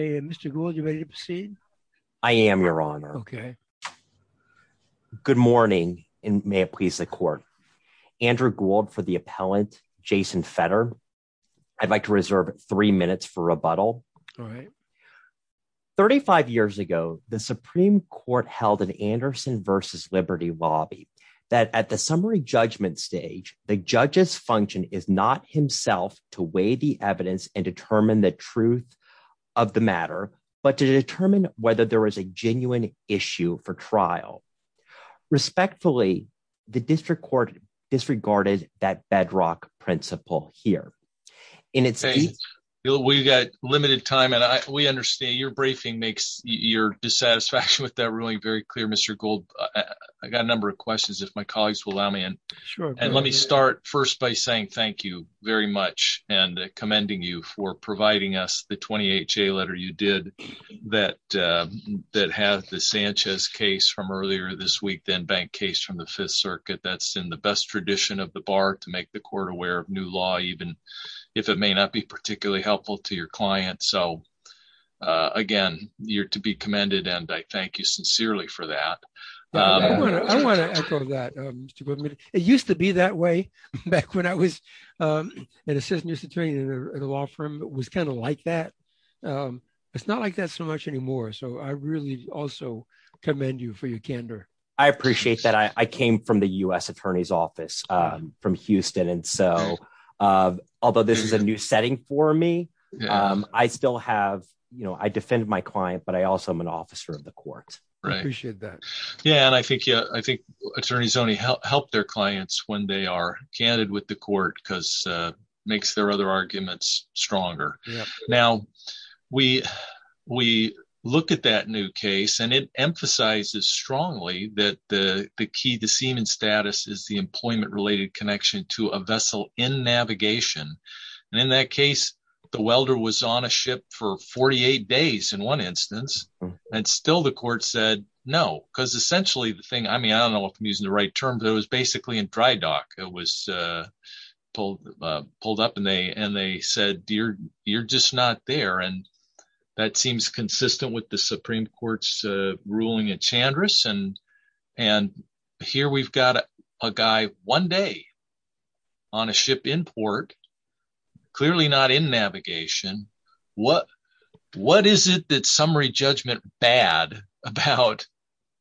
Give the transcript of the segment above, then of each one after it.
Mr. Gould, you ready to proceed? I am, your honor. Okay. Good morning, and may it please the court. Andrew Gould for the appellant, Jason Fetter. I'd like to reserve three minutes for rebuttal. All right. 35 years ago, the Supreme Court held an Anderson v. Liberty lobby that at the summary judgment stage, the judge's function is not himself to weigh the evidence and determine the truth of the matter, but to determine whether there was a genuine issue for trial. Respectfully, the district court disregarded that bedrock principle here. We've got limited time, and we understand your briefing makes your dissatisfaction with that ruling very clear, Mr. Gould. I got a number of questions, if my colleagues will allow me. And let me start first by saying thank you very much and commending you for providing us the 28-J letter you did that had the Sanchez case from earlier this week, then Bank case from the Fifth Circuit. That's in the best tradition of the bar to make the court aware of new law, even if it may not be particularly helpful to your client. So again, you're to be commended, and I thank you sincerely for that. I want to echo that, Mr. Gould. It used to be that way back when I was an assistant attorney at a law firm. It was kind of like that. It's not like that so much anymore. So I really also commend you for your candor. I appreciate that. I came from the U.S. Attorney's Office from Houston. And so, although this is a new setting for me, I still have, you know, I defend my client, but I also am an officer of the court. I appreciate that. Yeah, and I think attorneys only help their clients when they are candid with the court because it makes their other arguments stronger. Now, we look at that new case, and it emphasizes strongly that the key to seaman status is the employment-related connection to a vessel in navigation. And in that case, the welder was on a ship for 48 days in one instance, and still the court said, no, because essentially the thing, I mean, I don't know if I'm using the right term, but it was basically in dry dock. It was pulled up and they said, you're just not there. And that seems consistent with the Supreme Court's ruling at Chandris. And here we've got a guy one day on a ship in port, clearly not in navigation. What is it that summary judgment bad about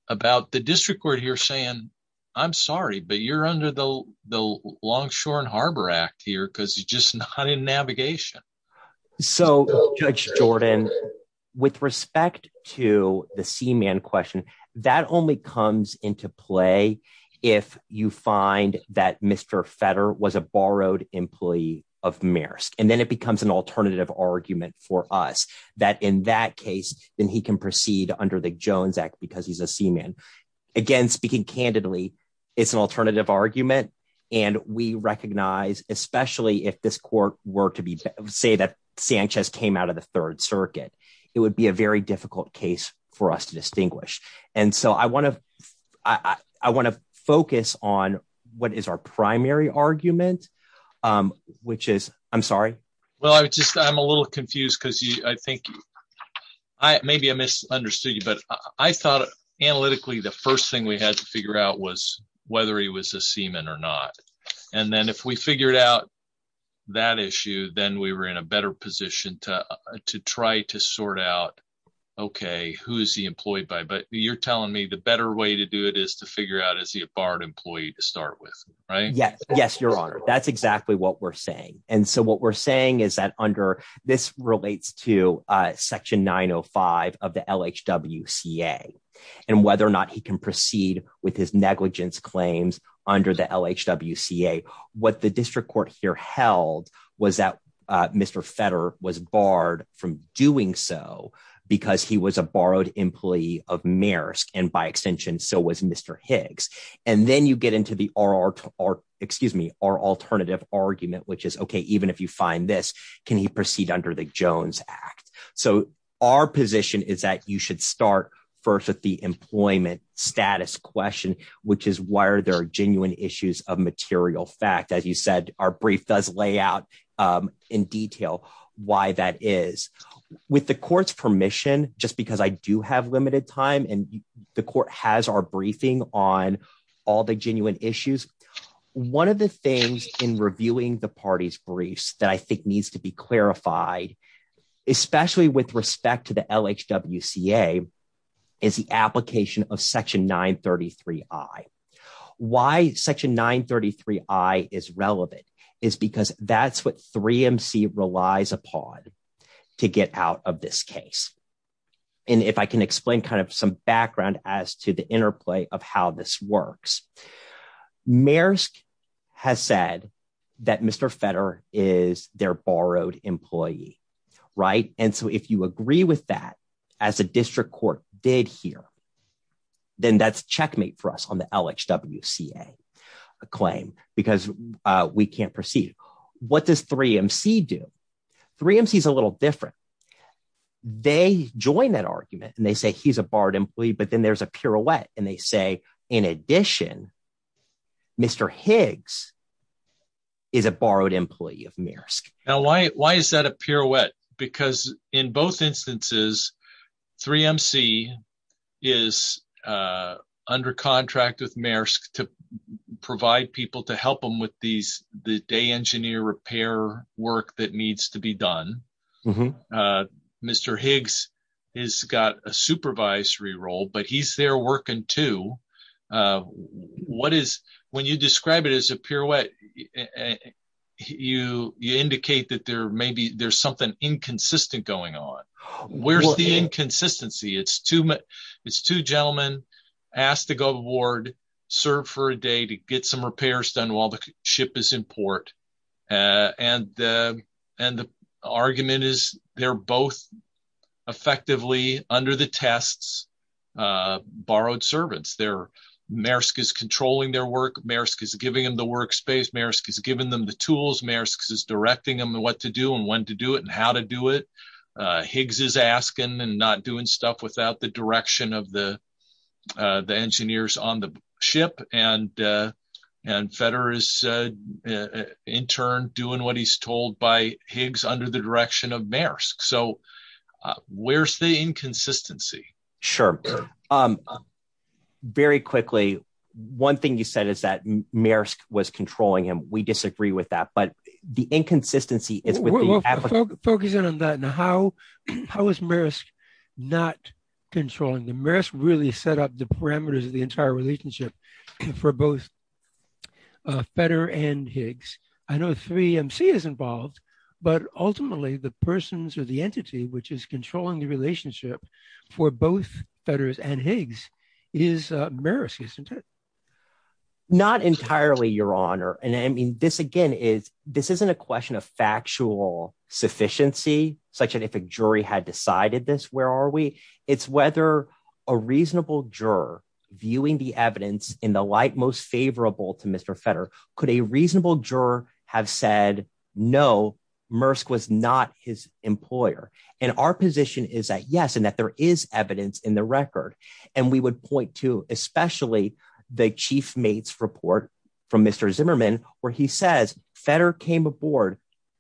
the district court here saying, I'm sorry, but you're under the Longshore and Harbor Act here because you're just not in navigation. So, Judge Jordan, with respect to the seaman question, that only comes into play if you find that Mr. Fetter was a borrowed employee of Maersk. And then it becomes an alternative argument for us that in that case, then he can proceed under the Jones Act because he's a seaman. Again, speaking candidly, it's an alternative argument. And we recognize, especially if this court were to say that Sanchez came out of the Third Circuit, it would be a very difficult case for us to distinguish. And so I want to focus on what is our primary argument, which is, I'm sorry. Well, I'm a little confused because I think maybe I misunderstood you, but I thought analytically, the first thing we had to figure out was whether he was a seaman or not. And then if we who is he employed by? But you're telling me the better way to do it is to figure out is he a barred employee to start with, right? Yes. Yes, Your Honor. That's exactly what we're saying. And so what we're saying is that under this relates to Section 905 of the LHWCA and whether or not he can proceed with his negligence claims under the LHWCA. What the district court here held was that Mr. Fetter was barred from doing so because he was a borrowed employee of Maersk, and by extension, so was Mr. Higgs. And then you get into the alternative argument, which is, OK, even if you find this, can he proceed under the Jones Act? So our position is that you should start first with the employment status question, which is why are there genuine issues of material fact? As you said, our brief does lay out in detail why that is. With the court's permission, just because I do have limited time and the court has our briefing on all the genuine issues. One of the things in reviewing the party's briefs that I think needs to be clarified, especially with respect to the LHWCA, is the application of Section 933I. Why Section 933I is relevant is because that's what 3MC relies upon to get out of this case. And if I can explain kind of some background as to the interplay of how this works, Maersk has said that Mr. Fetter is their borrowed employee, right? And so if you did hear, then that's checkmate for us on the LHWCA claim because we can't proceed. What does 3MC do? 3MC is a little different. They join that argument and they say he's a borrowed employee, but then there's a pirouette and they say, in addition, Mr. Higgs is a borrowed employee of 3MC. 3MC is under contract with Maersk to provide people to help them with the day engineer repair work that needs to be done. Mr. Higgs has got a supervisory role, but he's there working too. When you describe it as a pirouette, you indicate that maybe there's something inconsistent going on. Where's the inconsistency? It's two gentlemen asked to go aboard, serve for a day to get some repairs done while the ship is in port. And the argument is they're both effectively, under the tests, borrowed servants. Maersk is controlling their work. Maersk is giving them the workspace. Maersk is giving them the tools. Maersk is directing them what to do and when to do it and how to do it. Higgs is asking and not doing stuff without the direction of the engineers on the ship. And Fetter is, in turn, doing what he's told by Higgs under the direction of Maersk. So where's the inconsistency? Sure. Very quickly, one thing you said is that Maersk was controlling him. We disagree with that, but the inconsistency is with the applicant. Focusing on that and how is Maersk not controlling them? Maersk really set up the parameters of the entire relationship for both Fetter and Higgs. I know three MC is involved, but ultimately the persons or the entity which is controlling the relationship for both Fetter and Higgs is Maersk, isn't it? Not entirely, Your Honor. And I mean, this again is this isn't a question of factual sufficiency such that if a jury had decided this, where are we? It's whether a reasonable juror viewing the evidence in the light most favorable to Mr. Fetter, could a reasonable juror have said, no, Maersk was not his employer. And our position is that, yes, and that there is evidence in the record. And we would point to especially the chief mate's report from Mr. Zimmerman, where he says Fetter came aboard,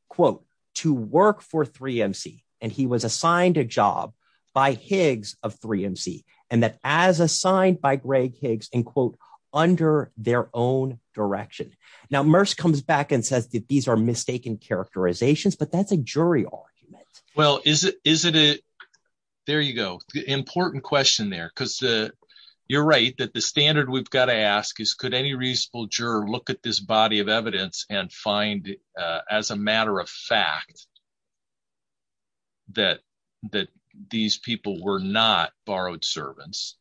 quote, to work for three MC and he was assigned a job by Higgs of three MC and that as assigned by Greg Higgs and quote, under their own direction. Now, Maersk comes back and says that these are mistaken characterizations, but that's a jury argument. Well, is it? There you go. The important question there, because you're right that the standard we've got to ask is could any reasonable juror look at this body of evidence and find as a matter of fact that these people were not borrowed servants?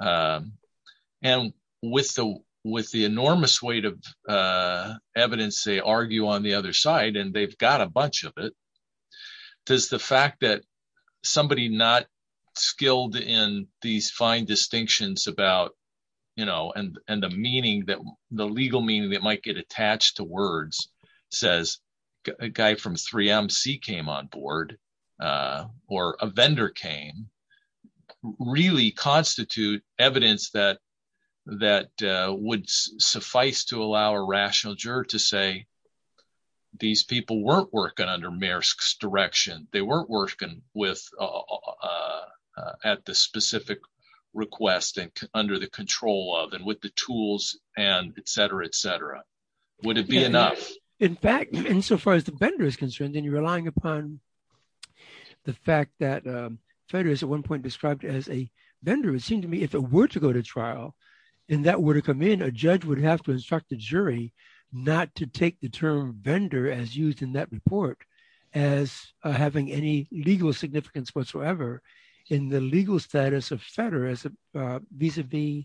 And with the enormous weight of the fact that somebody not skilled in these fine distinctions about, and the legal meaning that might get attached to words says a guy from three MC came on board or a vendor came, really constitute evidence that would suffice to allow a rational juror to say these people weren't working under Maersk's direction. They weren't working with at the specific request and under the control of and with the tools and et cetera, et cetera. Would it be enough? In fact, insofar as the vendor is concerned, then you're relying upon the fact that Fetter is at one point described as a vendor. It seemed to me if it were to go to trial and that were to come in, a judge would have to instruct the jury not to take the term vendor as used in that report as having any legal significance whatsoever in the legal status of Fetter as a vis-a-vis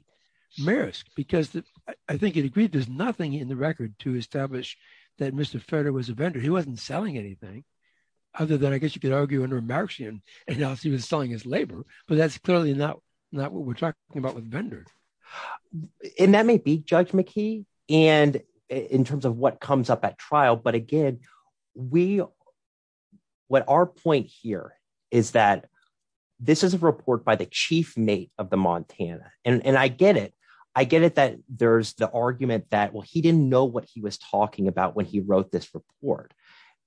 Maersk because I think it agreed there's nothing in the record to establish that Mr. Fetter was a vendor. He wasn't selling anything other than I guess you could argue under a Marxian analysis he was selling his labor, but that's clearly not what we're talking about vendors. And that may be Judge McKee and in terms of what comes up at trial. But again, what our point here is that this is a report by the chief mate of the Montana and I get it. I get it that there's the argument that, well, he didn't know what he was talking about when he wrote this report,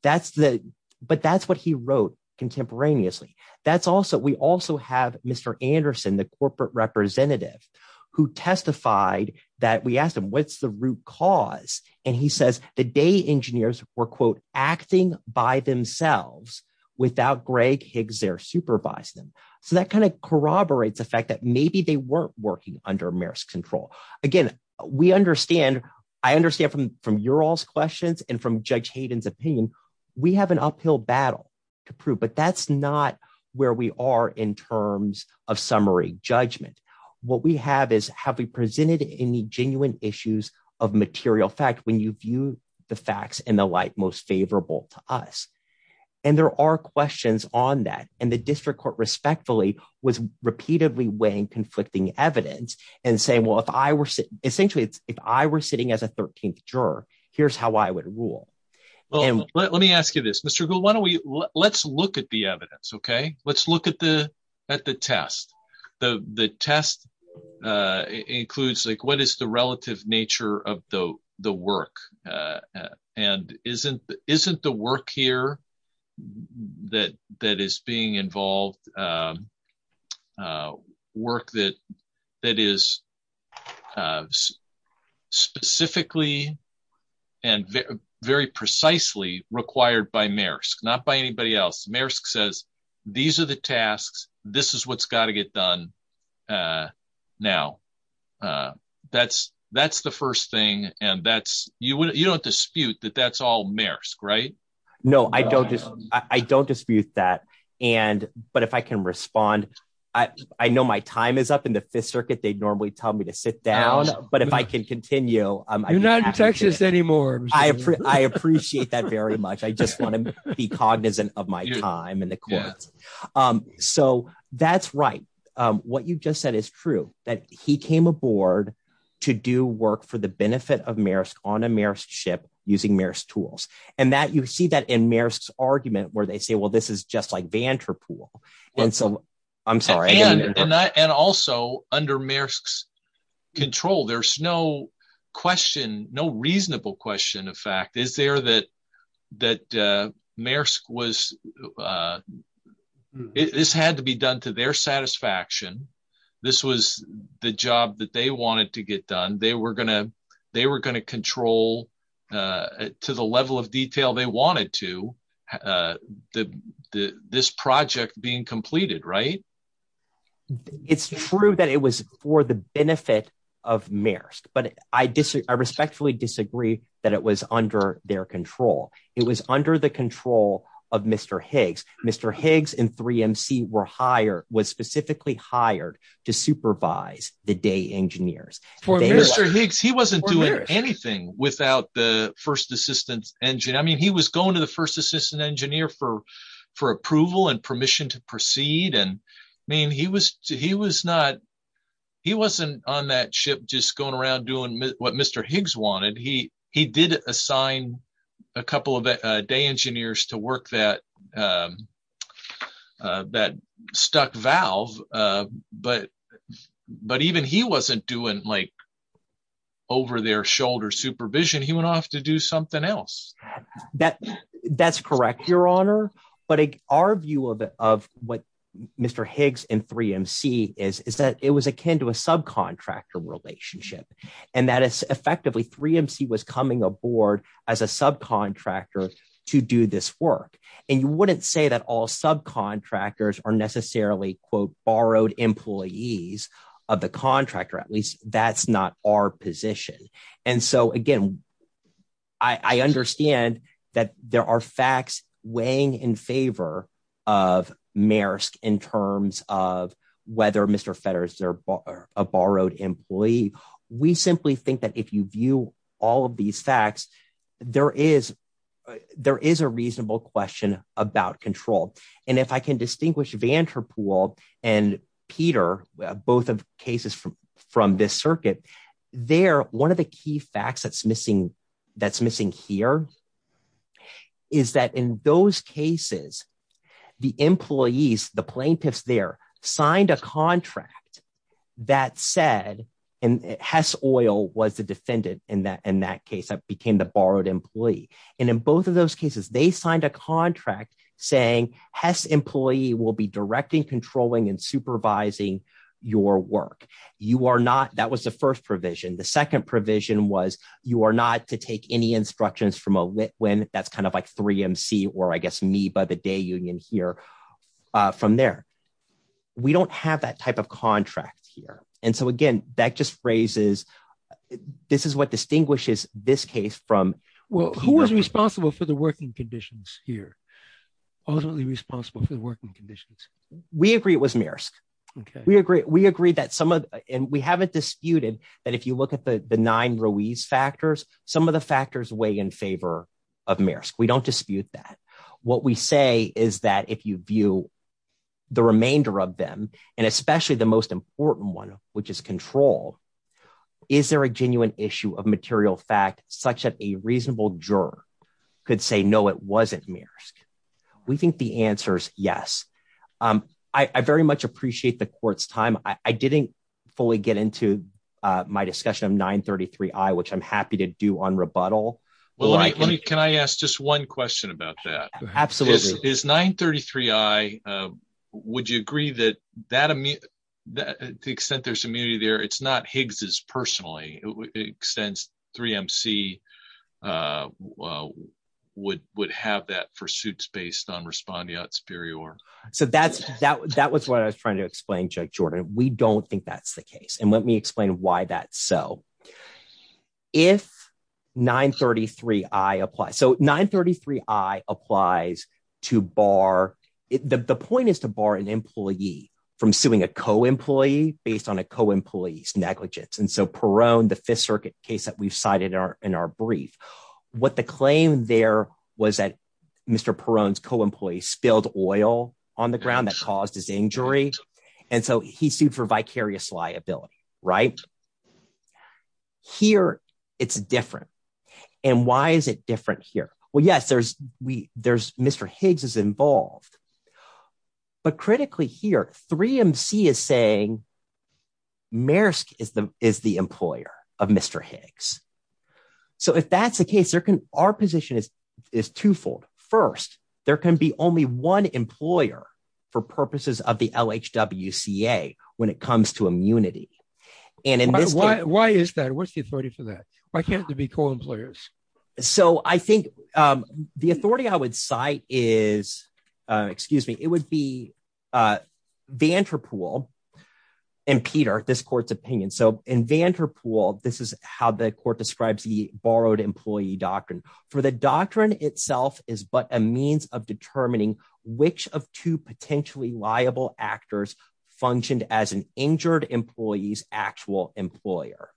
but that's what he wrote contemporaneously. We also have Mr. Anderson, the corporate representative who testified that we asked him what's the root cause. And he says the day engineers were quote acting by themselves without Greg Higgs there supervise them. So that kind of corroborates the fact that maybe they weren't working under Maersk control. Again, we understand, I understand from your all's questions and from Judge Hayden's opinion, we have an uphill battle to prove, but that's not where we are in terms of summary judgment. What we have is have we presented any genuine issues of material fact when you view the facts in the light most favorable to us. And there are questions on that. And the district court respectfully was repeatedly weighing conflicting evidence and saying, well, if I were essentially, if I were sitting as a 13th juror, here's how I would rule. Well, let me ask you this, Mr. Gould, why don't we, let's look at the evidence. Okay. Let's look at the test. The test includes like, what is the relative nature of the work? And isn't the work here that is being involved, work that is specifically and very precisely required by Maersk, not by anybody else. Maersk says, these are the tasks. This is what's got to get done now. That's the first thing. And that's, you don't dispute that that's all Maersk, right? I don't dispute that. And, but if I can respond, I know my time is up in the fifth circuit. They normally tell me to sit down, but if I can continue, I appreciate that very much. I just want to be cognizant of my time and the courts. So that's right. What you've just said is true that he came aboard to do work for the benefit of Maersk on a Maersk ship using Maersk tools. And that you see that in Maersk's argument where they say, well, this is just like Vanterpool. And so I'm sorry. And also under Maersk's control, there's no question, no reasonable question of fact, is there that, that Maersk was, this had to be done to their satisfaction. This was the job that they wanted to get done. They were going to control to the level of detail they wanted to, this project being completed, right? It's true that it was for the benefit of Maersk, but I respectfully disagree that it was under their control. It was under the control of Mr. Higgs. Mr. Higgs and 3MC were hired, to supervise the day engineers. For Mr. Higgs, he wasn't doing anything without the first assistant engineer. I mean, he was going to the first assistant engineer for approval and permission to proceed. And I mean, he wasn't on that ship just going around doing what Mr. Higgs wanted. He did assign a couple of day engineers to work that stuck valve. But even he wasn't doing like over their shoulder supervision. He went off to do something else. That's correct, your honor. But our view of what Mr. Higgs and 3MC is, is that it was akin to a subcontractor relationship. And that is effectively 3MC was coming aboard as a subcontractor, or necessarily, quote, borrowed employees of the contractor, at least that's not our position. And so again, I understand that there are facts weighing in favor of Maersk in terms of whether Mr. Fetter is a borrowed employee. We simply think that if you view all of these facts, there is a reasonable question about control. And if I can distinguish Vanderpool and Peter, both of cases from this circuit, there, one of the key facts that's missing here is that in those cases, the employees, the plaintiffs there signed a contract that said, and Hess Oil was the defendant in that case that became the borrowed employee. And in both of those cases, they signed a contract saying Hess employee will be directing, controlling and supervising your work. You are not, that was the first provision. The second provision was you are not to take any instructions from a lit win. That's kind of like 3MC, or I guess by the day union here from there. We don't have that type of contract here. And so again, that just raises, this is what distinguishes this case from, well, who was responsible for the working conditions here? Ultimately responsible for the working conditions. We agree it was Maersk. We agree that some of, and we haven't disputed that if you look at the nine Ruiz factors, some of the factors weigh in favor of Maersk. We don't dispute that. What we say is that if you view the remainder of them and especially the most important one, which is control, is there a genuine issue of material fact such that a reasonable juror could say, no, it wasn't Maersk. We think the answer's yes. I very much appreciate the court's time. I didn't fully get into my discussion of 933I, which I'm happy to do on rebuttal. Can I ask just one question about that? Absolutely. Is 933I, would you agree that the extent there's immunity there, it's not Higgs's personally, extends 3MC would have that for suits based on respondeat superior. So that was what I was trying to explain, Judge Jordan. We don't think that's the case. And let explain why that's so. If 933I applies, so 933I applies to bar, the point is to bar an employee from suing a co-employee based on a co-employee's negligence. And so Perrone, the Fifth Circuit case that we've cited in our brief, what the claim there was that Mr. Perrone's co-employee spilled oil on the ground that caused his injury. And so he sued for vicarious liability, right? Here, it's different. And why is it different here? Well, yes, Mr. Higgs is involved, but critically here, 3MC is saying Maersk is the employer of Mr. Higgs. So if that's the case, our position is twofold. First, there can be only one employer for purposes of the LHWCA when it comes to immunity. And in this case- Why is that? What's the authority for that? Why can't there be co-employers? So I think the authority I would cite is, excuse me, it would be Vanderpool and Peter, this court's opinion. So in Vanderpool, this is how the court describes the borrowed employee doctrine. For the doctrine itself is but a means of determining which of two potentially liable actors functioned as an injured employee's actual employer.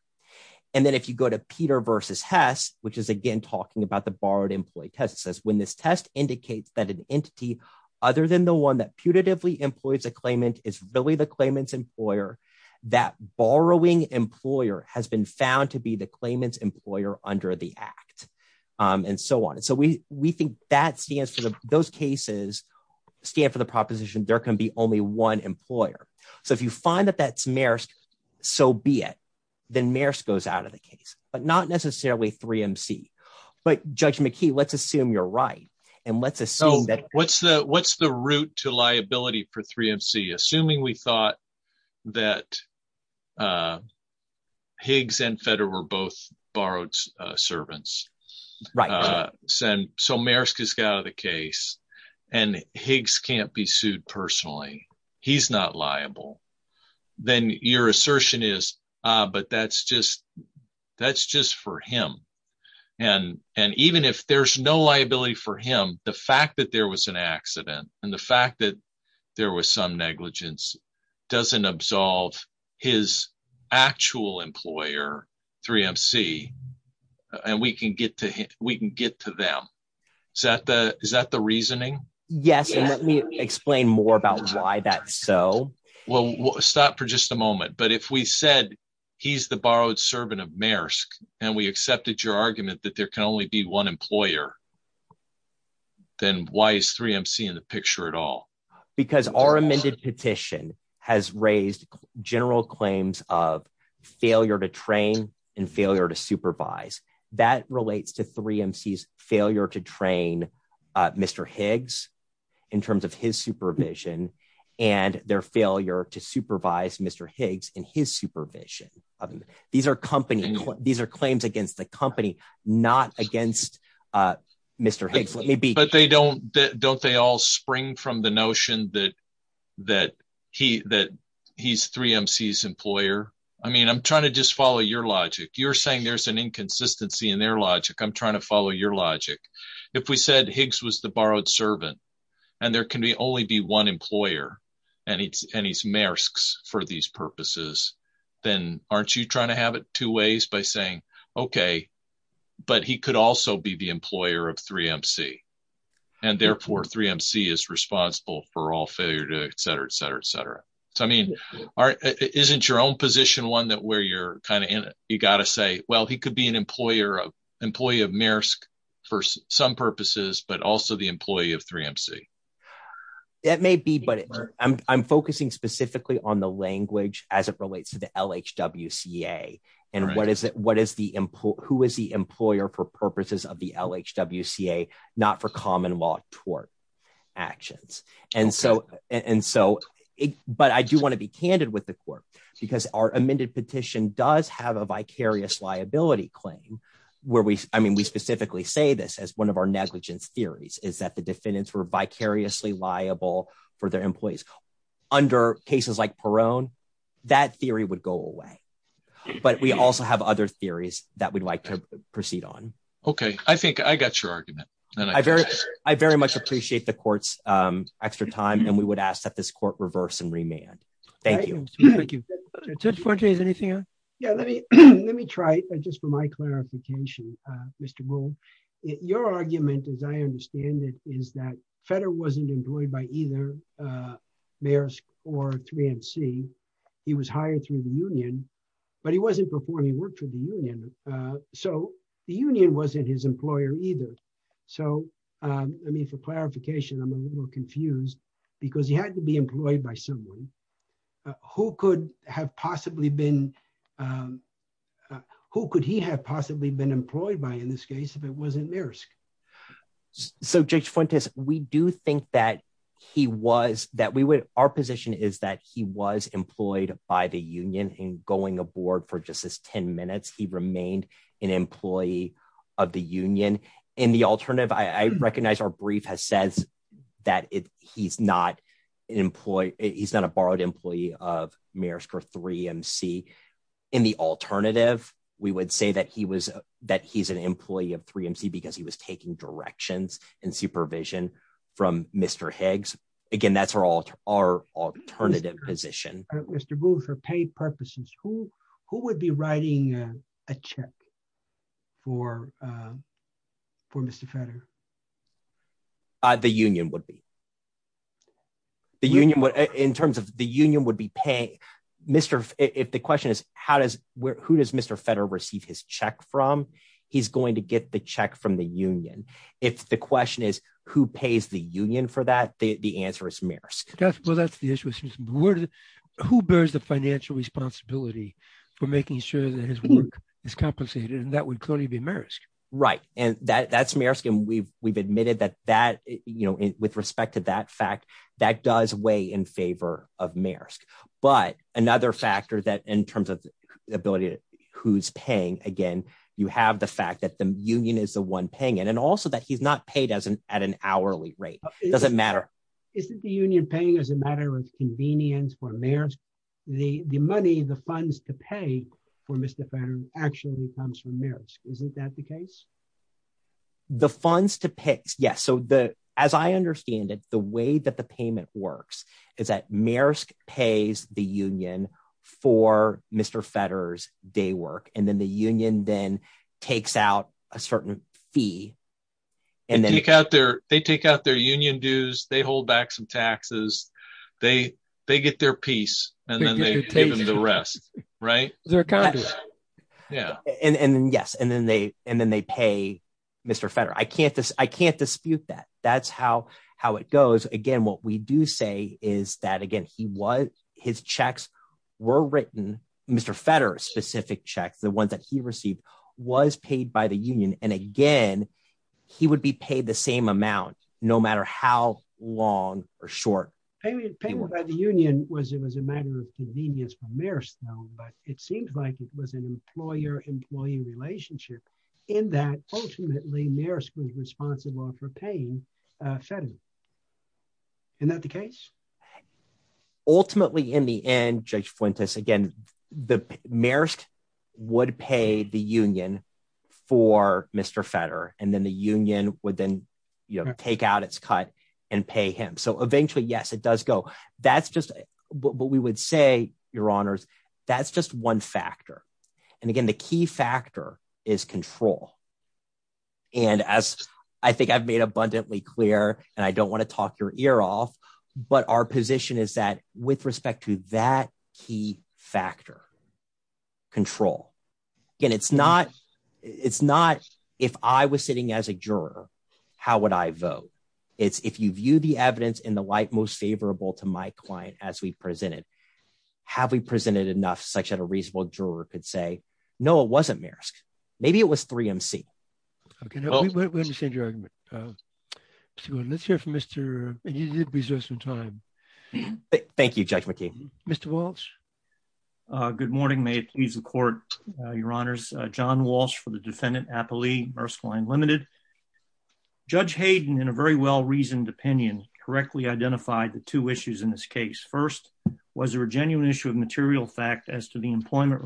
And then if you go to Peter versus Hess, which is, again, talking about the borrowed employee test, it says, when this test indicates that an entity other than the one that putatively employs a claimant is really the claimant's employer, that borrowing employer has been found to be the claimant's employer under the act, and so on. And so we think those cases stand for the proposition there can be only one employer. So if you find that that's Maersk, so be it. Then Maersk goes out of the case, but not necessarily 3MC. But Judge McKee, let's assume you're right. And let's assume that- Assuming we thought that Higgs and Fetter were both borrowed servants, so Maersk has got out of the case, and Higgs can't be sued personally. He's not liable. Then your assertion is, but that's just for him. And even if there's no liability for him, the fact that there was an accident, and the fact that there was some negligence, doesn't absolve his actual employer, 3MC, and we can get to them. Is that the reasoning? Yes. And let me explain more about why that's so. Well, stop for just a moment. But if we said he's the borrowed servant of Maersk, and we accepted your argument that there can only be one employer, then why is 3MC in the picture at all? Because our amended petition has raised general claims of failure to train and failure to supervise. That relates to 3MC's failure to train Mr. Higgs in terms of his supervision, and their failure to supervise Mr. Higgs in his supervision. These are claims against the company, not against Mr. Higgs. Don't they all spring from the notion that he's 3MC's employer? I'm trying to just follow your logic. You're saying there's an inconsistency in their logic. I'm trying to follow your logic. If we said Higgs was the borrowed servant, and there can only be one employer, and he's Maersk's for these purposes, then aren't you trying to have it two ways by saying, okay, but he could also be the employer of 3MC. And therefore, 3MC is responsible for all failure to etc., etc., etc. So, I mean, isn't your own position one that where you're kind of in it? You got to say, well, he could be an employee of Maersk for some purposes, but also the employee of 3MC. That may be, but I'm focusing specifically on the language as it relates to the LHWCA, and who is the employer for purposes of the LHWCA, not for common law tort actions. And so, but I do want to be candid with the court, because our amended petition does have a vicarious liability claim, where we, I mean, say this as one of our negligence theories, is that the defendants were vicariously liable for their employees. Under cases like Peron, that theory would go away. But we also have other theories that we'd like to proceed on. Okay. I think I got your argument. I very much appreciate the court's extra time, and we would ask that this court reverse and remand. Thank you. Thank you. Judge Fauci, is anything on? Yeah, let me try, just for my clarification, Mr. Bull. Your argument, as I understand it, is that Federer wasn't employed by either Maersk or 3MC. He was hired through the union, but he wasn't performing work for the union. So, the union wasn't his employer either. So, I mean, for clarification, I'm a little confused, because he had to be employed by someone. Who could have possibly been, who could he have possibly been employed by, in this case, if it wasn't Maersk? So, Judge Fuentes, we do think that he was, that we would, our position is that he was employed by the union, and going aboard for just his 10 minutes, he remained an employee of the union. In the alternative, I recognize our brief has said that he's not an employee, he's not a borrowed employee of Maersk or 3MC. In the alternative, we would say that he was, that he's an employee of 3MC, because he was taking directions and supervision from Mr. Higgs. Again, that's our alternative position. Mr. Bull, for pay purposes, who would be writing a check for Mr. Federer? The union would be. The union would, in terms of, the union would be paying, Mr., if the question is, how does, who does Mr. Federer receive his check from, he's going to get the check from the union. If the question is, who pays the union for that, the answer is Maersk. Well, that's the issue. Who bears the financial responsibility for making sure that his work is compensated, and that would clearly be Maersk. Right. And that's Maersk, and we've admitted that that, with respect to that fact, that does weigh in favor of Maersk. But another factor that, in terms of the ability of who's paying, again, you have the fact that the union is the one paying it, and also that he's not paid at an hourly rate. It doesn't matter. Isn't the union paying as a matter of convenience for Maersk? The money, the funds to pay for Mr. Federer actually comes from Maersk. Isn't that the case? The funds to pay, yes. So the, as I understand it, the way that the payment works is that Maersk pays the union for Mr. Federer's day work, and then the union then takes out a certain fee, and then- They take out their union dues, they hold back some taxes, they get their piece, and then they give them the rest. Right? Is there a contract? Yeah. And then, yes, and then they pay Mr. Federer. I can't dispute that. That's how it goes. Again, what we do say is that, again, his checks were written, Mr. Federer's specific checks, the ones that he received, was paid by the union. And again, he would be paid the same amount no matter how long or short- Payment by the union was a matter of convenience for Maersk, but it seems like it was an employer-employee relationship in that, ultimately, Maersk was responsible for paying Federer. Isn't that the case? Ultimately, in the end, Judge Fuentes, again, Maersk would pay the union for Mr. Federer, and then the union would then take out its cut and pay him. So eventually, yes, it does go. That's just what we would say, Your Honors, that's just one factor. And again, the key factor is control. And as I think I've made abundantly clear, and I don't want to talk your ear off, but our position is that, with respect to that key factor, control. Again, it's not if I was sitting as a juror, how would I vote? It's if you view the evidence in the light most favorable to my client as we've presented, have we presented enough such that a reasonable juror could say, no, it wasn't Maersk, maybe it was 3MC. Okay, we understand your argument. So let's hear from Mr., you did reserve some time. Thank you, Judge McKee. Mr. Walsh. Good morning. May it please the court, Your Honors. John Walsh for the defendant, Appelee, Maersk Line Limited. Judge Hayden, in a very well-reasoned opinion, correctly identified the two issues in this case. First, was there a genuine issue of material fact as to the employment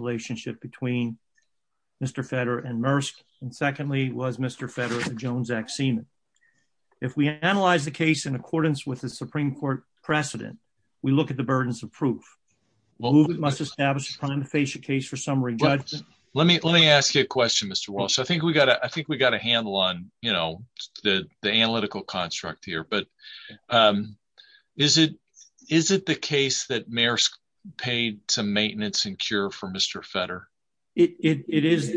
if we analyze the case in accordance with the Supreme Court precedent, we look at the burdens of proof. Well, we must establish a prima facie case for summary judgment. Let me ask you a question, Mr. Walsh. I think we got a handle on, you know, the analytical construct here, but is it the case that Maersk paid some maintenance and cure for Mr. Fetter? It is.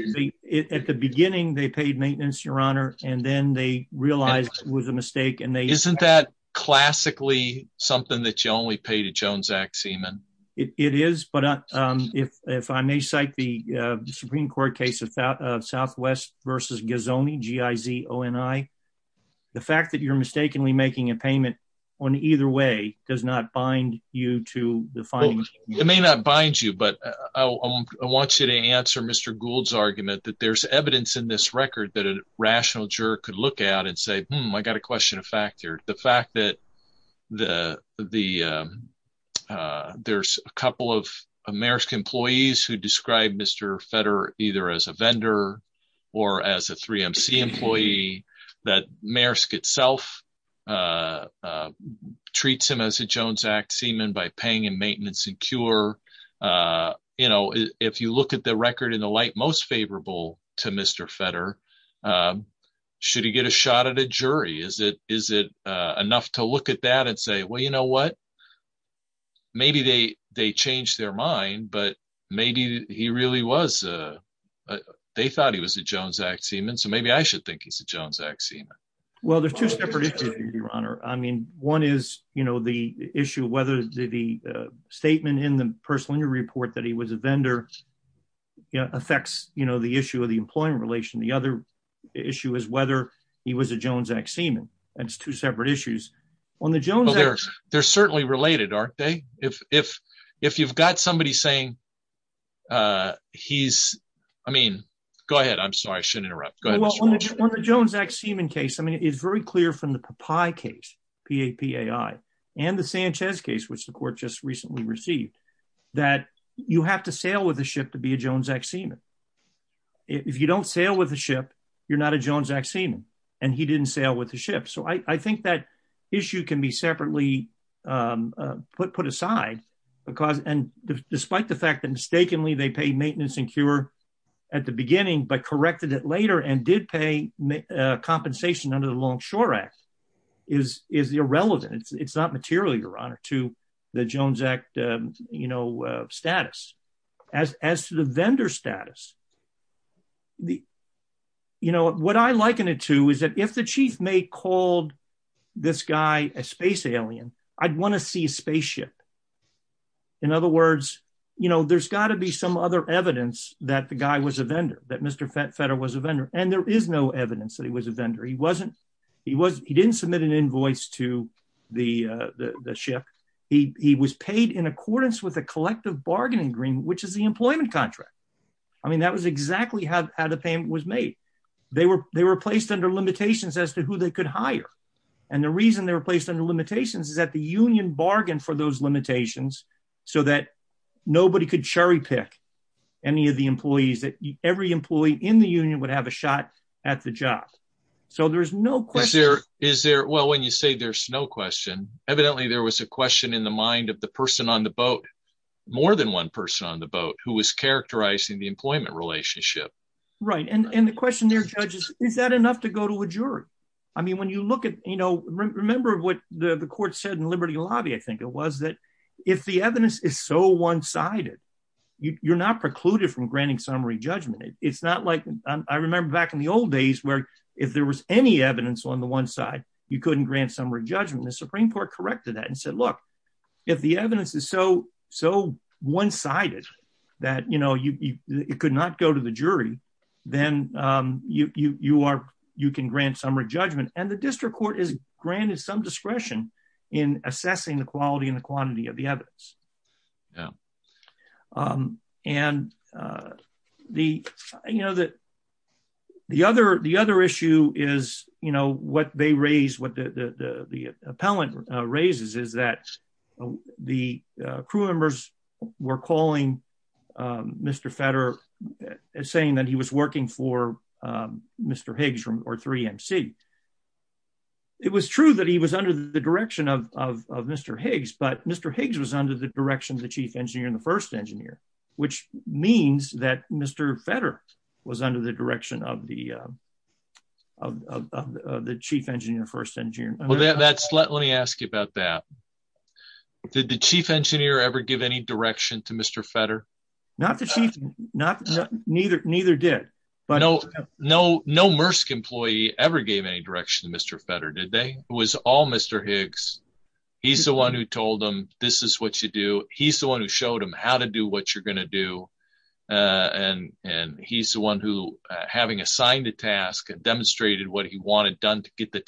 At the beginning, they paid maintenance, Your Honor, and then they realized it was a mistake. Isn't that classically something that you only pay to Joan Zach Seaman? It is, but if I may cite the Supreme Court case of Southwest v. Gazzone, G-I-Z-O-N-I, the fact that you're mistakenly making a payment on either way does not bind you to the finding. It may not bind you, but I want you to answer Mr. Gould's argument that there's evidence in this record that a rational juror could look at and say, hmm, I got a question of fact here. The fact that there's a couple of Maersk employees who describe Mr. Fetter either as a vendor or as a 3MC employee, that Maersk itself treats him as a Joan Zach Seaman by paying him maintenance and cure. If you look at the record in the light most favorable to Mr. Fetter, should he get a shot at a jury? Is it enough to look at that and say, well, you know what? Maybe they changed their mind, but maybe they thought he was a Joan Zach Seaman, so maybe I should think he's a Joan Zach Seaman. Well, there's two separate issues, your honor. I mean, one is the issue of whether the statement in the personal injury report that he was a vendor affects the issue of the employment relation. The other issue is whether he was a Joan Zach Seaman. That's two separate issues. They're certainly related, aren't they? If you've got somebody saying he's, I mean, go ahead. I'm sorry, I shouldn't interrupt. On the Joan Zach Seaman case, I mean, it's very clear from the PAPI case, P-A-P-I, and the Sanchez case, which the court just recently received, that you have to sail with a ship to be a Joan Zach Seaman. If you don't sail with a ship, you're not a Joan Zach Seaman, and he didn't sail with the ship. So I think that issue can be separately put aside because, and despite the fact that mistakenly they pay maintenance and cure at the beginning, but corrected it later and did pay compensation under the Longshore Act, is irrelevant. It's not material, your honor, to the Jones Act status. As to the vendor status, what I liken it to is that if the chief may called this guy a space alien, I'd want to see a spaceship. In other words, there's got to be some other evidence that the guy was a vendor, that Mr. Fetter was a vendor, and there is no evidence that he was a vendor. He didn't submit an invoice to the ship. He was paid in accordance with a collective bargaining agreement, which is the employment contract. I mean, that was exactly how the payment was made. They were placed under limitations as to who they could hire, and the reason they were placed under limitations is that the union bargained for those limitations so that nobody could cherry pick any of the employees, that every employee in the union would have a shot at the job. So there's no question. Is there, well, when you say there's no question, evidently there was a question in the mind of the person on the boat, more than one person on the boat, who was characterizing the employment relationship. Right, and the question there, Judge, is that enough to go to a jury? I mean, you look at, you know, remember what the court said in Liberty Lobby, I think it was, that if the evidence is so one-sided, you're not precluded from granting summary judgment. It's not like, I remember back in the old days, where if there was any evidence on the one side, you couldn't grant summary judgment. The Supreme Court corrected that and said, look, if the evidence is so one-sided that, you know, it could not go to the jury, then you can grant summary judgment, and the district court is granted some discretion in assessing the quality and the quantity of the evidence. Yeah. And the, you know, that the other, the other issue is, you know, what they raised, what the, the, the, the appellant raises is that the crew members were calling Mr. Fetter, saying that he was working for Mr. Higgs or 3MC. It was true that he was under the direction of Mr. Higgs, but Mr. Higgs was under the direction of the chief engineer and the first engineer, which means that Mr. Fetter was under the direction of the, of the chief engineer, first engineer. Well, that's, let me ask you about that. Did the chief engineer ever give any direction to Mr. Fetter? Not the chief, neither, neither did. No, no, no MRSC employee ever gave any direction to Mr. Fetter, did they? It was all Mr. Higgs. He's the one who told them, this is what you do. He's the one who showed them how to do what you're going to do. And, and he's the one who, having assigned a task and demonstrated what he wanted done to get the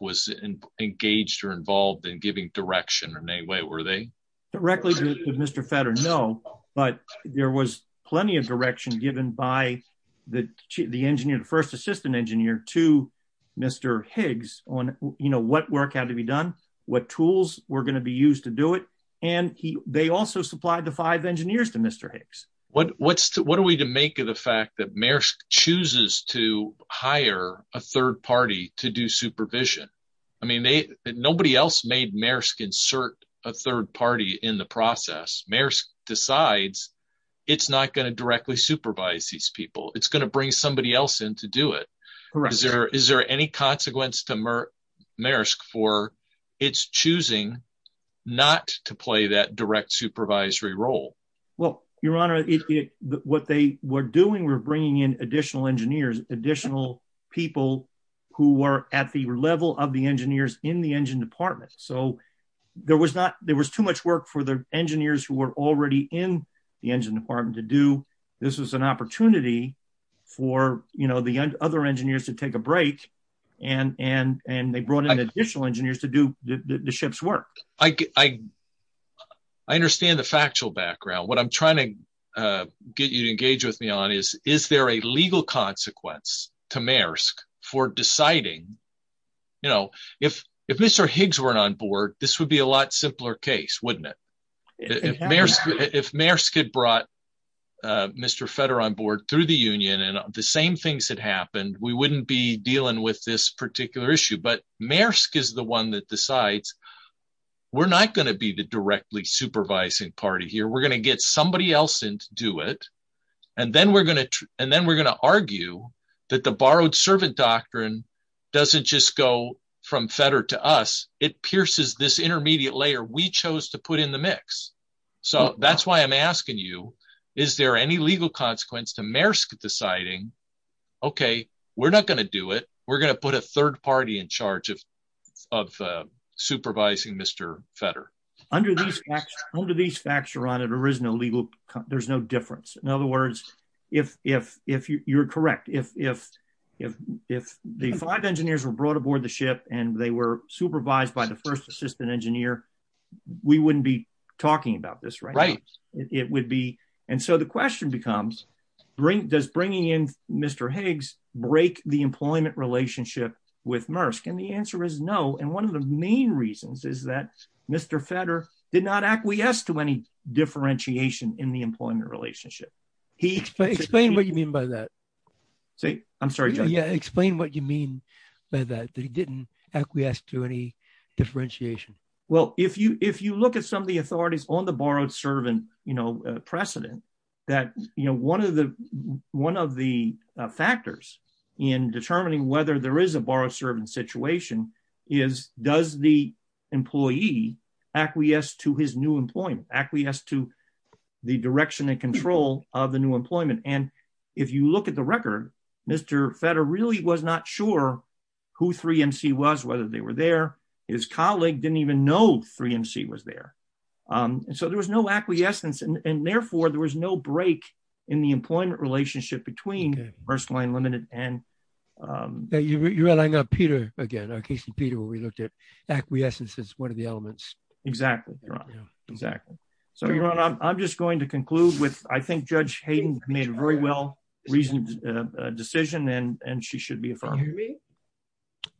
was engaged or involved in giving direction in any way, were they? Directly to Mr. Fetter, no, but there was plenty of direction given by the chief, the engineer, the first assistant engineer to Mr. Higgs on, you know, what work had to be done, what tools were going to be used to do it. And he, they also supplied the five engineers to Mr. Higgs. What, what's, what are we to make of the fact that Maersk chooses to hire a third party to do supervision? I mean, they, nobody else made Maersk insert a third party in the process. Maersk decides it's not going to directly supervise these people. It's going to bring somebody else in to do it. Is there, is there any consequence to Maersk for its choosing not to play that direct supervisory role? Well, your honor, what they were doing, we're bringing in additional engineers, additional people who were at the level of the engineers in the engine department. So there was not, there was too much work for the engineers who were already in the engine department to do. This was an opportunity for, you know, the other engineers to take a break. And, and, and they brought in additional engineers to do the ship's work. I, I, I understand the factual background. What I'm trying to get you to engage with me on is, is there a legal consequence to Maersk for deciding, you know, if, if Mr. Higgs weren't on board, this would be a lot simpler case, wouldn't it? If Maersk had brought Mr. Fetter on board through the union and the same things had happened, we wouldn't be dealing with this we're not going to be the directly supervising party here. We're going to get somebody else in to do it. And then we're going to, and then we're going to argue that the borrowed servant doctrine doesn't just go from Fetter to us. It pierces this intermediate layer we chose to put in the mix. So that's why I'm asking you, is there any legal consequence to Maersk deciding, okay, we're not going to do it. We're going to put a third party in charge of, of supervising Mr. Fetter. Under these facts, under these facts, Ron, there is no legal, there's no difference. In other words, if, if, if you're correct, if, if, if, if the five engineers were brought aboard the ship and they were supervised by the first assistant engineer, we wouldn't be talking about this, right? It would be. And so the question becomes, does bringing in Mr. Higgs break the employment relationship with Maersk? And the answer is no. And one of the main reasons is that Mr. Fetter did not acquiesce to any differentiation in the employment relationship. He... Explain what you mean by that. Say, I'm sorry, John. Yeah. Explain what you mean by that, that he didn't acquiesce to any differentiation. Well, if you, if you look at some of the authorities on the borrowed servant, you know, precedent that, you know, one of the, one of the factors in determining whether there is a borrowed servant situation is, does the employee acquiesce to his new employment, acquiesce to the direction and control of the new employment? And if you look at the record, Mr. Fetter really was not sure who 3MC was, whether they were there, his colleague didn't even know 3MC was there. And so there was no acquiescence and therefore there was no break in the employment relationship between Maersk Line Limited and... You're adding up Peter again, our case in Peter, where we looked at acquiescence as one of the elements. Exactly. Exactly. So I'm just going to conclude with, I think Judge Hayden made a very well reasoned decision and she should be affirmed.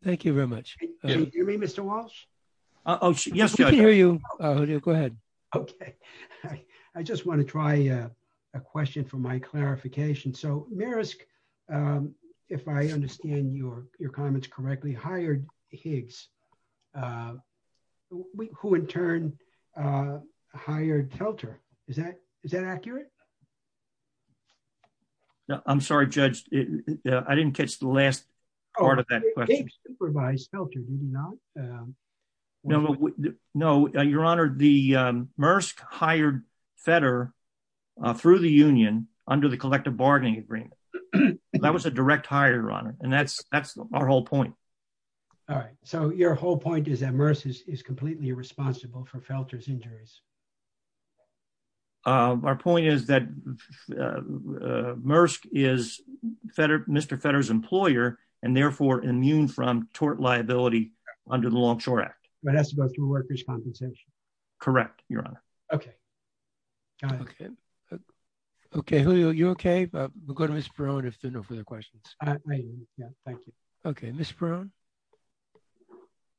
Thank you very much. You mean Mr. Walsh? Oh, yes. We can hear you. Go ahead. Okay. I just want to try a question for my clarification. So Maersk, if I understand your comments correctly, hired Higgs, who in turn hired Helter. Is that accurate? I'm sorry, Judge. I didn't catch the last part of that question. Supervised Helter, did you not? No. Your Honor, Maersk hired Fetter through the union under the collective bargaining agreement. That was a direct hire, Your Honor. And that's our whole point. All right. So your whole point is that Maersk is completely responsible for Helter's injuries. Our point is that Maersk is Mr. Fetter's employer and therefore immune from tort liability under the Longshore Act. But that's about through workers' compensation. Correct, Your Honor. Okay. Okay. You okay? We'll go to Ms. Perone if there are no further questions. I'm fine. Thank you. Okay. Ms. Perone.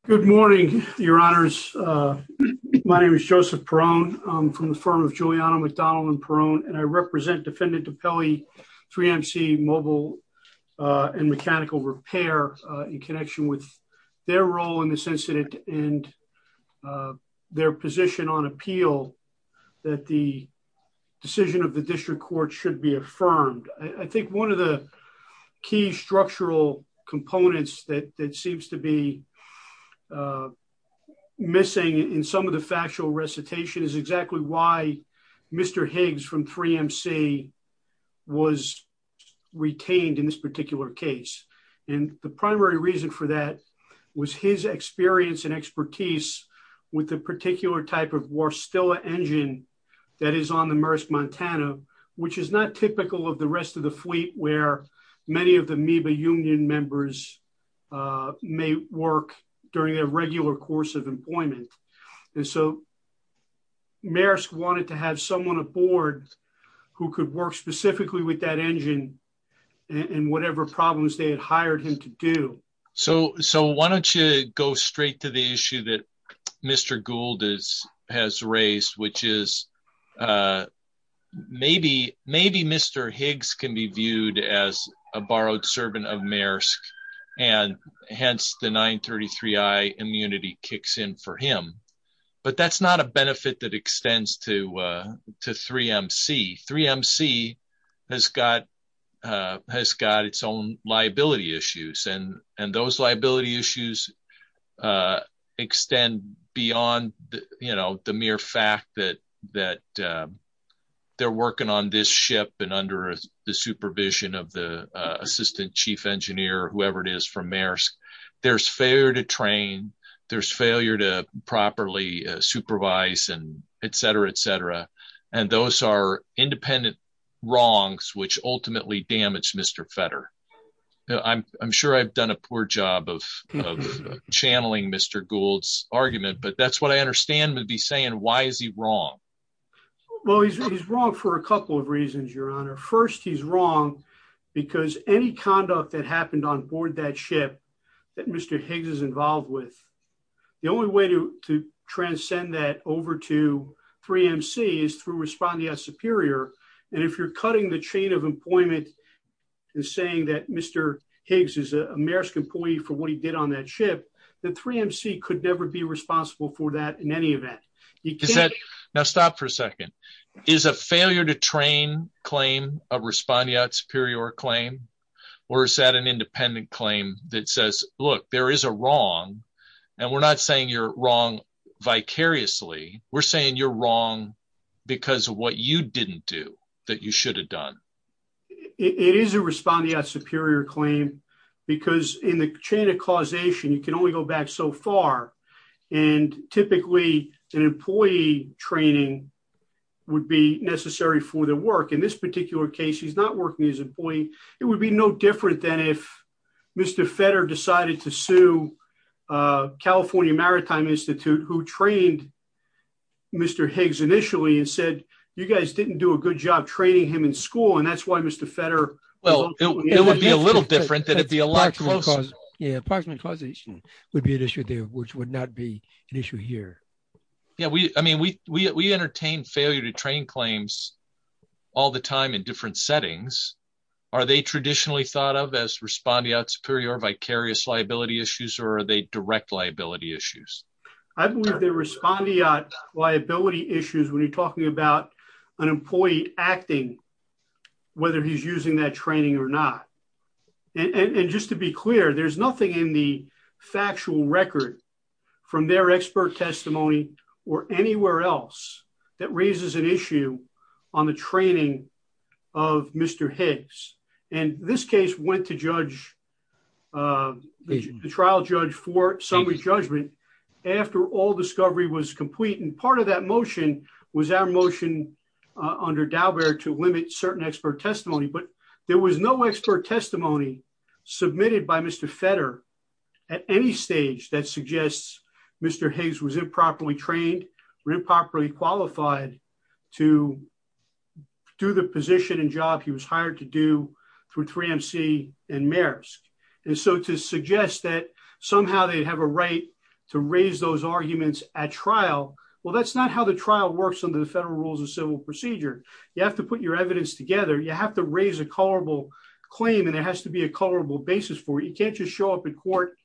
Good morning, Your Honors. My name is Joseph Perone. I'm from the firm of Giuliano McDonnell and Perone, and I represent Defendant DiPelle, 3MC Mobile and Mechanical Repair in connection with their role in this incident and their position on appeal that the decision of the district court should be affirmed. I think one of the key structural components that seems to be missing in some of the factual recitation is exactly why Mr. Higgs from 3MC was retained in this particular case. And the primary reason for that was his experience and expertise with a particular type of Warstella engine that is on the Maersk Montana, which is not typical of the rest of the fleet where many of the MEBA union members may work during their regular course of employment. And so Maersk wanted to have someone aboard who could work specifically with that engine and whatever problems they had hired him to do. So why don't you go straight to the issue that Mr. Gould has raised, which is maybe Mr. Higgs can be viewed as a borrowed servant of Maersk and hence the 933i immunity kicks in for him. But that's not a benefit that extends to 3MC. 3MC has got its own liability issues and those liability issues extend beyond the mere fact that they're working on this ship and under the supervision of the assistant chief engineer, whoever it is from Maersk. There's failure to train, there's failure to properly supervise, and et cetera, et cetera. And those are independent wrongs, which ultimately damaged Mr. Fetter. I'm sure I've done a poor job of channeling Mr. Gould's argument, but that's what I understand would be saying, why is he wrong? Well, he's wrong for a couple of reasons, your honor. First, he's wrong because any conduct that happened onboard that ship that Mr. Higgs is involved with, the only way to transcend that over to 3MC is through Respondeat Superior. And if you're cutting the chain of employment and saying that Mr. Higgs is a Maersk employee for what he did on that ship, then 3MC could never be responsible for that in any event. Now stop for a second. Is a failure to train claim a Respondeat Superior claim or is that an independent claim that says, look, there is a wrong and we're not saying you're wrong vicariously, we're saying you're wrong because of what you didn't do that you should have done? It is a Respondeat Superior claim because in the chain of causation, you can only go back so far. And typically an employee training would be necessary for the work. In this particular case, he's not working as an employee. It would be no different than if Mr. Fetter decided to sue California Maritime Institute, who trained Mr. Higgs initially and said, you guys didn't do a good job training him in school. And that's why Mr. Fetter... Well, it would be a little different than if the electoral cause... Yeah, parchment causation would be an issue there, which would not be an issue here. Yeah, I mean, we entertain failure to train claims all the time in different settings. Are they traditionally thought of as Respondeat Superior vicarious liability issues or are they direct liability issues? I believe they're Respondeat liability issues when you're talking about an employee acting, whether he's using that training or not. And just to be clear, there's nothing in the factual record from their expert testimony or anywhere else that raises an training of Mr. Higgs. And this case went to the trial judge for summary judgment after all discovery was complete. And part of that motion was our motion under Daubert to limit certain expert testimony, but there was no expert testimony submitted by Mr. Fetter at any stage that suggests Mr. Higgs was improperly trained or improperly qualified to do the position and job he was hired to do through 3MC and Maersk. And so to suggest that somehow they have a right to raise those arguments at trial, well, that's not how the trial works under the federal rules of civil procedure. You have to put your evidence together. You have to raise a colorable claim and it has to be a colorable basis for it. You can't just show up in court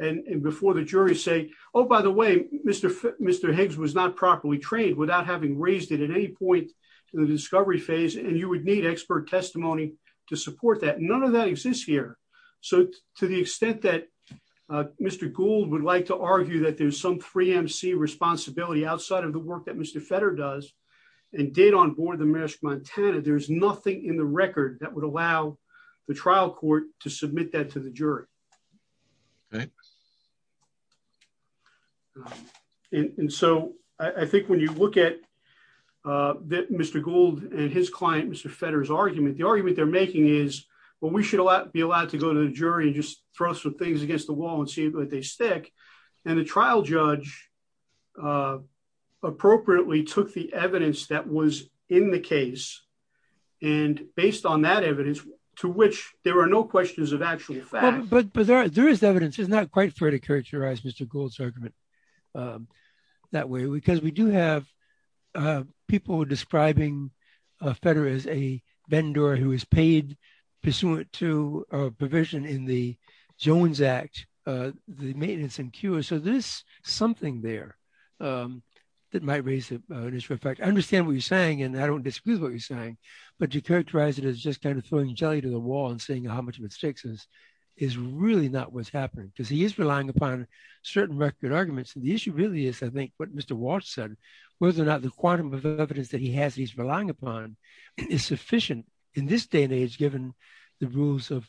and before the jury say, oh, by the way, Mr. Higgs was not properly trained without having raised it at any point to the discovery phase. And you would need expert testimony to support that. None of that exists here. So to the extent that Mr. Gould would like to argue that there's some 3MC responsibility outside of the work that Mr. Fetter does and did on board the Maersk Montana, there's nothing in the record that would allow the trial court to submit that to the jury. And so I think when you look at Mr. Gould and his client, Mr. Fetter's argument, the argument they're making is, well, we should be allowed to go to the jury and just throw some things against the wall and see if they stick. And the trial judge appropriately took the evidence that was in the case and based on that evidence to which there are no questions of actual fact. But there is evidence. It's not quite fair to characterize Mr. Gould's argument that way because we do have people describing Fetter as a vendor who is paid pursuant to a provision in the Jones Act, the maintenance and cure. So there's something there that might raise an issue of fact. I understand what you're saying and I don't disagree with what you're saying, but to characterize it as just kind of throwing jelly to the wall and seeing how much of it sticks is really not what's happening because he is relying upon certain record arguments. And the issue really is, I think, what Mr. Walsh said, whether or not the quantum of evidence that he has that he's relying upon is sufficient in this day and age, given the rules of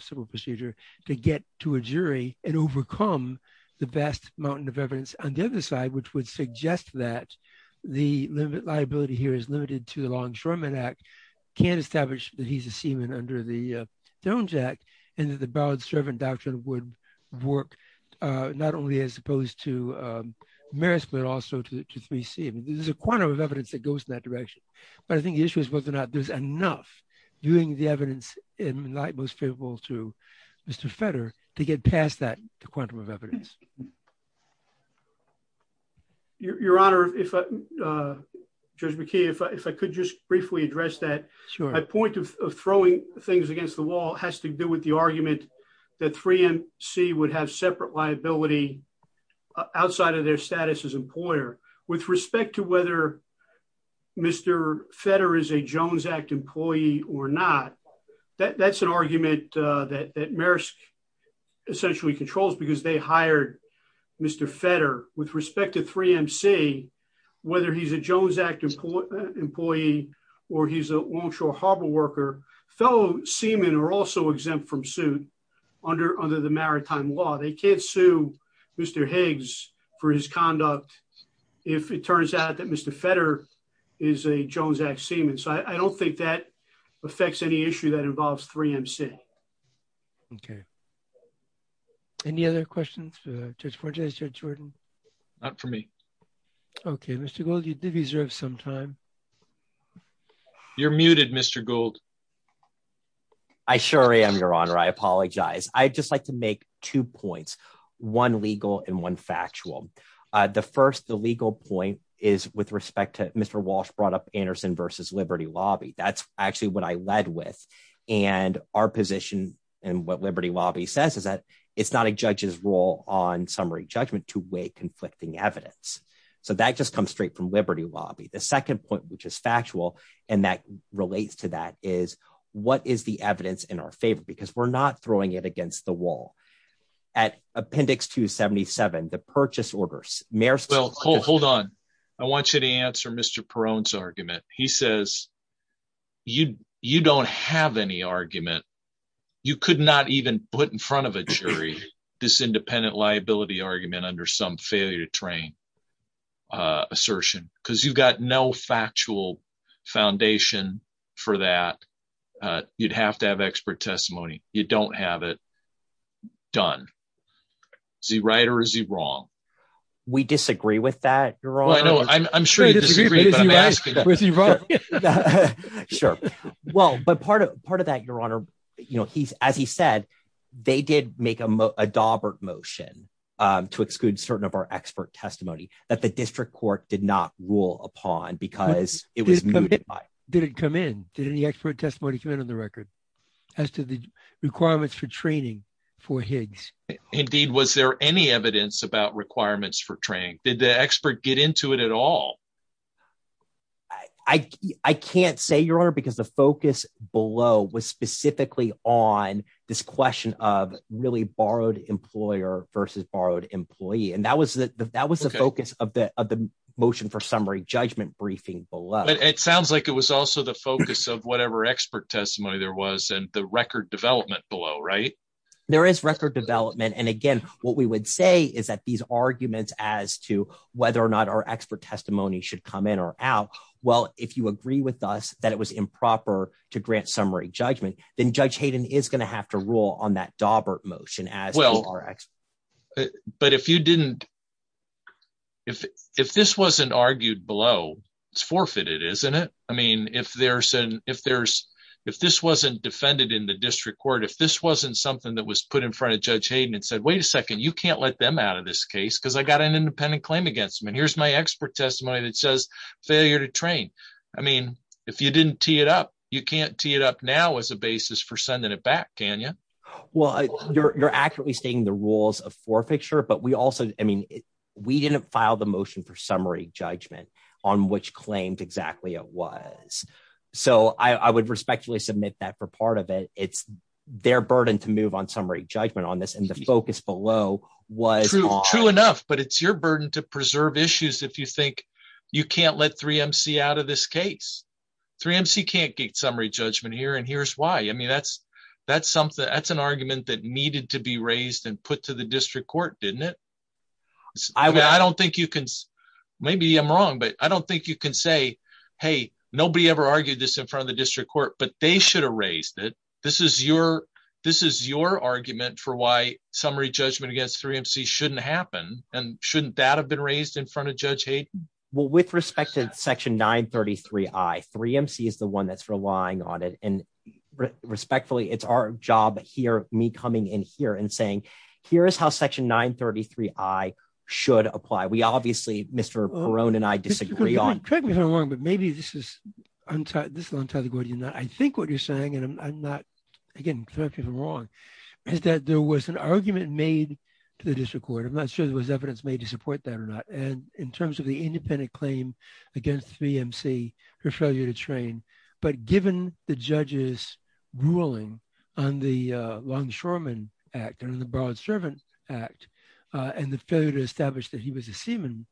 civil procedure, to get to a jury and overcome the vast mountain of evidence. On the other side, which would suggest that the liability here is limited to the Law Ensurement Act, can't establish that he's a seaman under the Jones Act and that the borrowed servant doctrine would work not only as opposed to merits, but also to 3C. There's a quantum of evidence that goes in that direction. But I think the issue is whether or not there's enough doing the evidence in light most favorable to Mr. Fetter to get past that quantum of evidence. Your Honor, if Judge McKee, if I could just briefly address that. My point of throwing things against the wall has to do with the argument that 3MC would have separate liability outside of their status as employer with respect to whether Mr. Fetter is a Jones Act employee or not. That's an argument that Maersk essentially controls because they hired Mr. Fetter with respect to 3MC, whether he's a Jones Act employee or he's a Longshore Harbor worker. Fellow seamen are also exempt from suit under the maritime law. They can't sue Mr. Higgs for his conduct if it turns out that Mr. Fetter is a Jones Act seaman. So I don't think that affects any issue that involves 3MC. Okay. Any other questions, Judge Fortes, Judge Jordan? Not for me. Okay, Mr. Gould, you did reserve some time. You're muted, Mr. Gould. I sure am, Your Honor. I apologize. I'd just like to make two points, one legal and one factual. The first, the legal point is with respect to Mr. Walsh brought up Anderson versus Liberty Lobby. That's actually what I led with. And our position and what Liberty Lobby says is it's not a judge's role on summary judgment to weigh conflicting evidence. So that just comes straight from Liberty Lobby. The second point, which is factual, and that relates to that, is what is the evidence in our favor? Because we're not throwing it against the wall. At Appendix 277, the purchase orders, Maersk- Well, hold on. I want you to answer Mr. Perrone's argument. He says, you don't have any argument. You could not even put in front of a jury this independent liability argument under some failure to train assertion, because you've got no factual foundation for that. You'd have to have expert testimony. You don't have it done. Is he right or is he wrong? We disagree with that, Your Honor. I'm sure you disagree, but I'm asking. Sure. Well, but part of that, Your Honor, as he said, they did make a Daubert motion to exclude certain of our expert testimony that the district court did not rule upon because it was mootified. Did it come in? Did any expert testimony come in on the record as to the requirements for training for Higgs? Indeed, was there any evidence about requirements for training? Did the expert get into it at all? I can't say, Your Honor, because the focus below was specifically on this question of really borrowed employer versus borrowed employee. And that was the focus of the motion for summary judgment briefing below. But it sounds like it was also the focus of whatever expert testimony there was and the record development below, right? There is record development. And again, what we would say is that these arguments as to whether or not our expert testimony should come in or out. Well, if you agree with us that it was improper to grant summary judgment, then Judge Hayden is going to have to rule on that Daubert motion. But if you didn't, if this wasn't argued below, it's forfeited, isn't it? I mean, if there's an if there's if this wasn't defended in the district court, if this wasn't something that was put in front of Judge Hayden and said, wait a second, you can't let them out of this case because I got an independent claim against him. And here's my expert testimony that says failure to train. I mean, if you didn't tee it up, you can't tee it up now as a basis for sending it back, can you? Well, you're accurately stating the rules of forfeiture. But we also I So I would respectfully submit that for part of it. It's their burden to move on summary judgment on this. And the focus below was true enough, but it's your burden to preserve issues. If you think you can't let three MC out of this case, three MC can't get summary judgment here. And here's why. I mean, that's that's something that's an argument that needed to be raised and put to the district court, didn't it? I don't think you can. Maybe I'm wrong, but I don't think you can say, hey, nobody ever argued this in front of the district court, but they should have raised it. This is your this is your argument for why summary judgment against three MC shouldn't happen. And shouldn't that have been raised in front of Judge Hayden? Well, with respect to Section 933, I three MC is the one that's relying on it. And respectfully, it's our job here, me coming in here and saying, here is how Section 933 I should apply. We obviously Mr. Brown and I disagree on that. Maybe this is untitled. This is untitled. I think what you're saying, and I'm not, again, correct me if I'm wrong, is that there was an argument made to the district court. I'm not sure there was evidence made to support that or not. And in terms of the independent claim against three MC for failure to train, but given the judges ruling on the Longshoreman Act and the Broad Servant Act and the failure to establish that he was a seaman,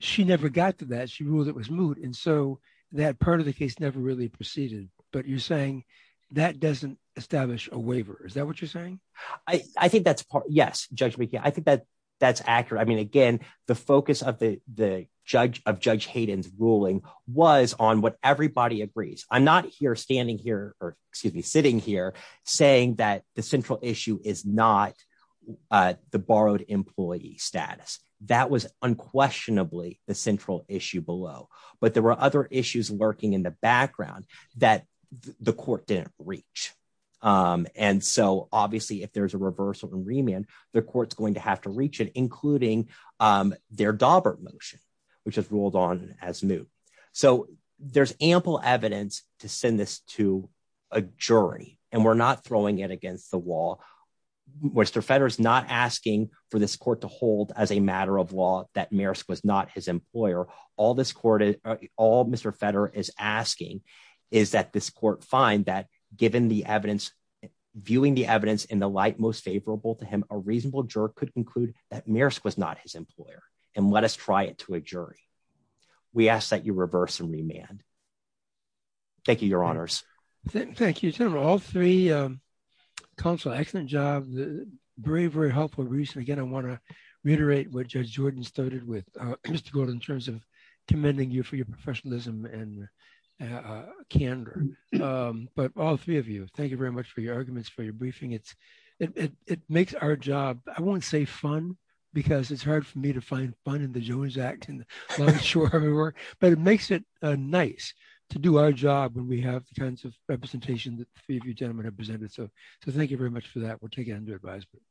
she never got to that. She ruled it was moot. And so that part of the case never really proceeded. But you're saying that doesn't establish a waiver. Is that what you're saying? I think that's part. Yes. Judge, we can. I think that that's accurate. I mean, again, the focus of the judge of Judge Hayden's ruling was on what everybody agrees. I'm not here standing here or sitting here saying that the central issue is not the borrowed employee status. That was unquestionably the central issue below. But there were other issues lurking in the background that the court didn't reach. And so obviously, if there's a reversal in remand, the court's going to have to reach it, including their Daubert motion, which has ruled on as moot. So there's ample evidence to send this to a jury, and we're not throwing it against the wall. Mr. Federer is not asking for this court to hold as a matter of law that Maersk was not his employer. All this court, all Mr. Federer is asking is that this court find that given the evidence, viewing the evidence in the light most favorable to him, a reasonable juror could conclude that Maersk was not his employer and let us try it to a jury. We ask that you reverse and remand. Thank you, Your Honors. Thank you to all three counsel. Excellent job. Very, very helpful. And again, I want to reiterate what Judge Jordan started with, Mr. Gould, in terms of commending you for your professionalism and candor. But all three of you, thank you very much for your arguments, for your briefing. It makes our job, I won't say fun, because it's hard for me to find fun in the Jones Act, but it makes it nice to do our job when we have the kinds of representation that the three of you gentlemen have presented. Thank you very much for that. We'll take it under advisement.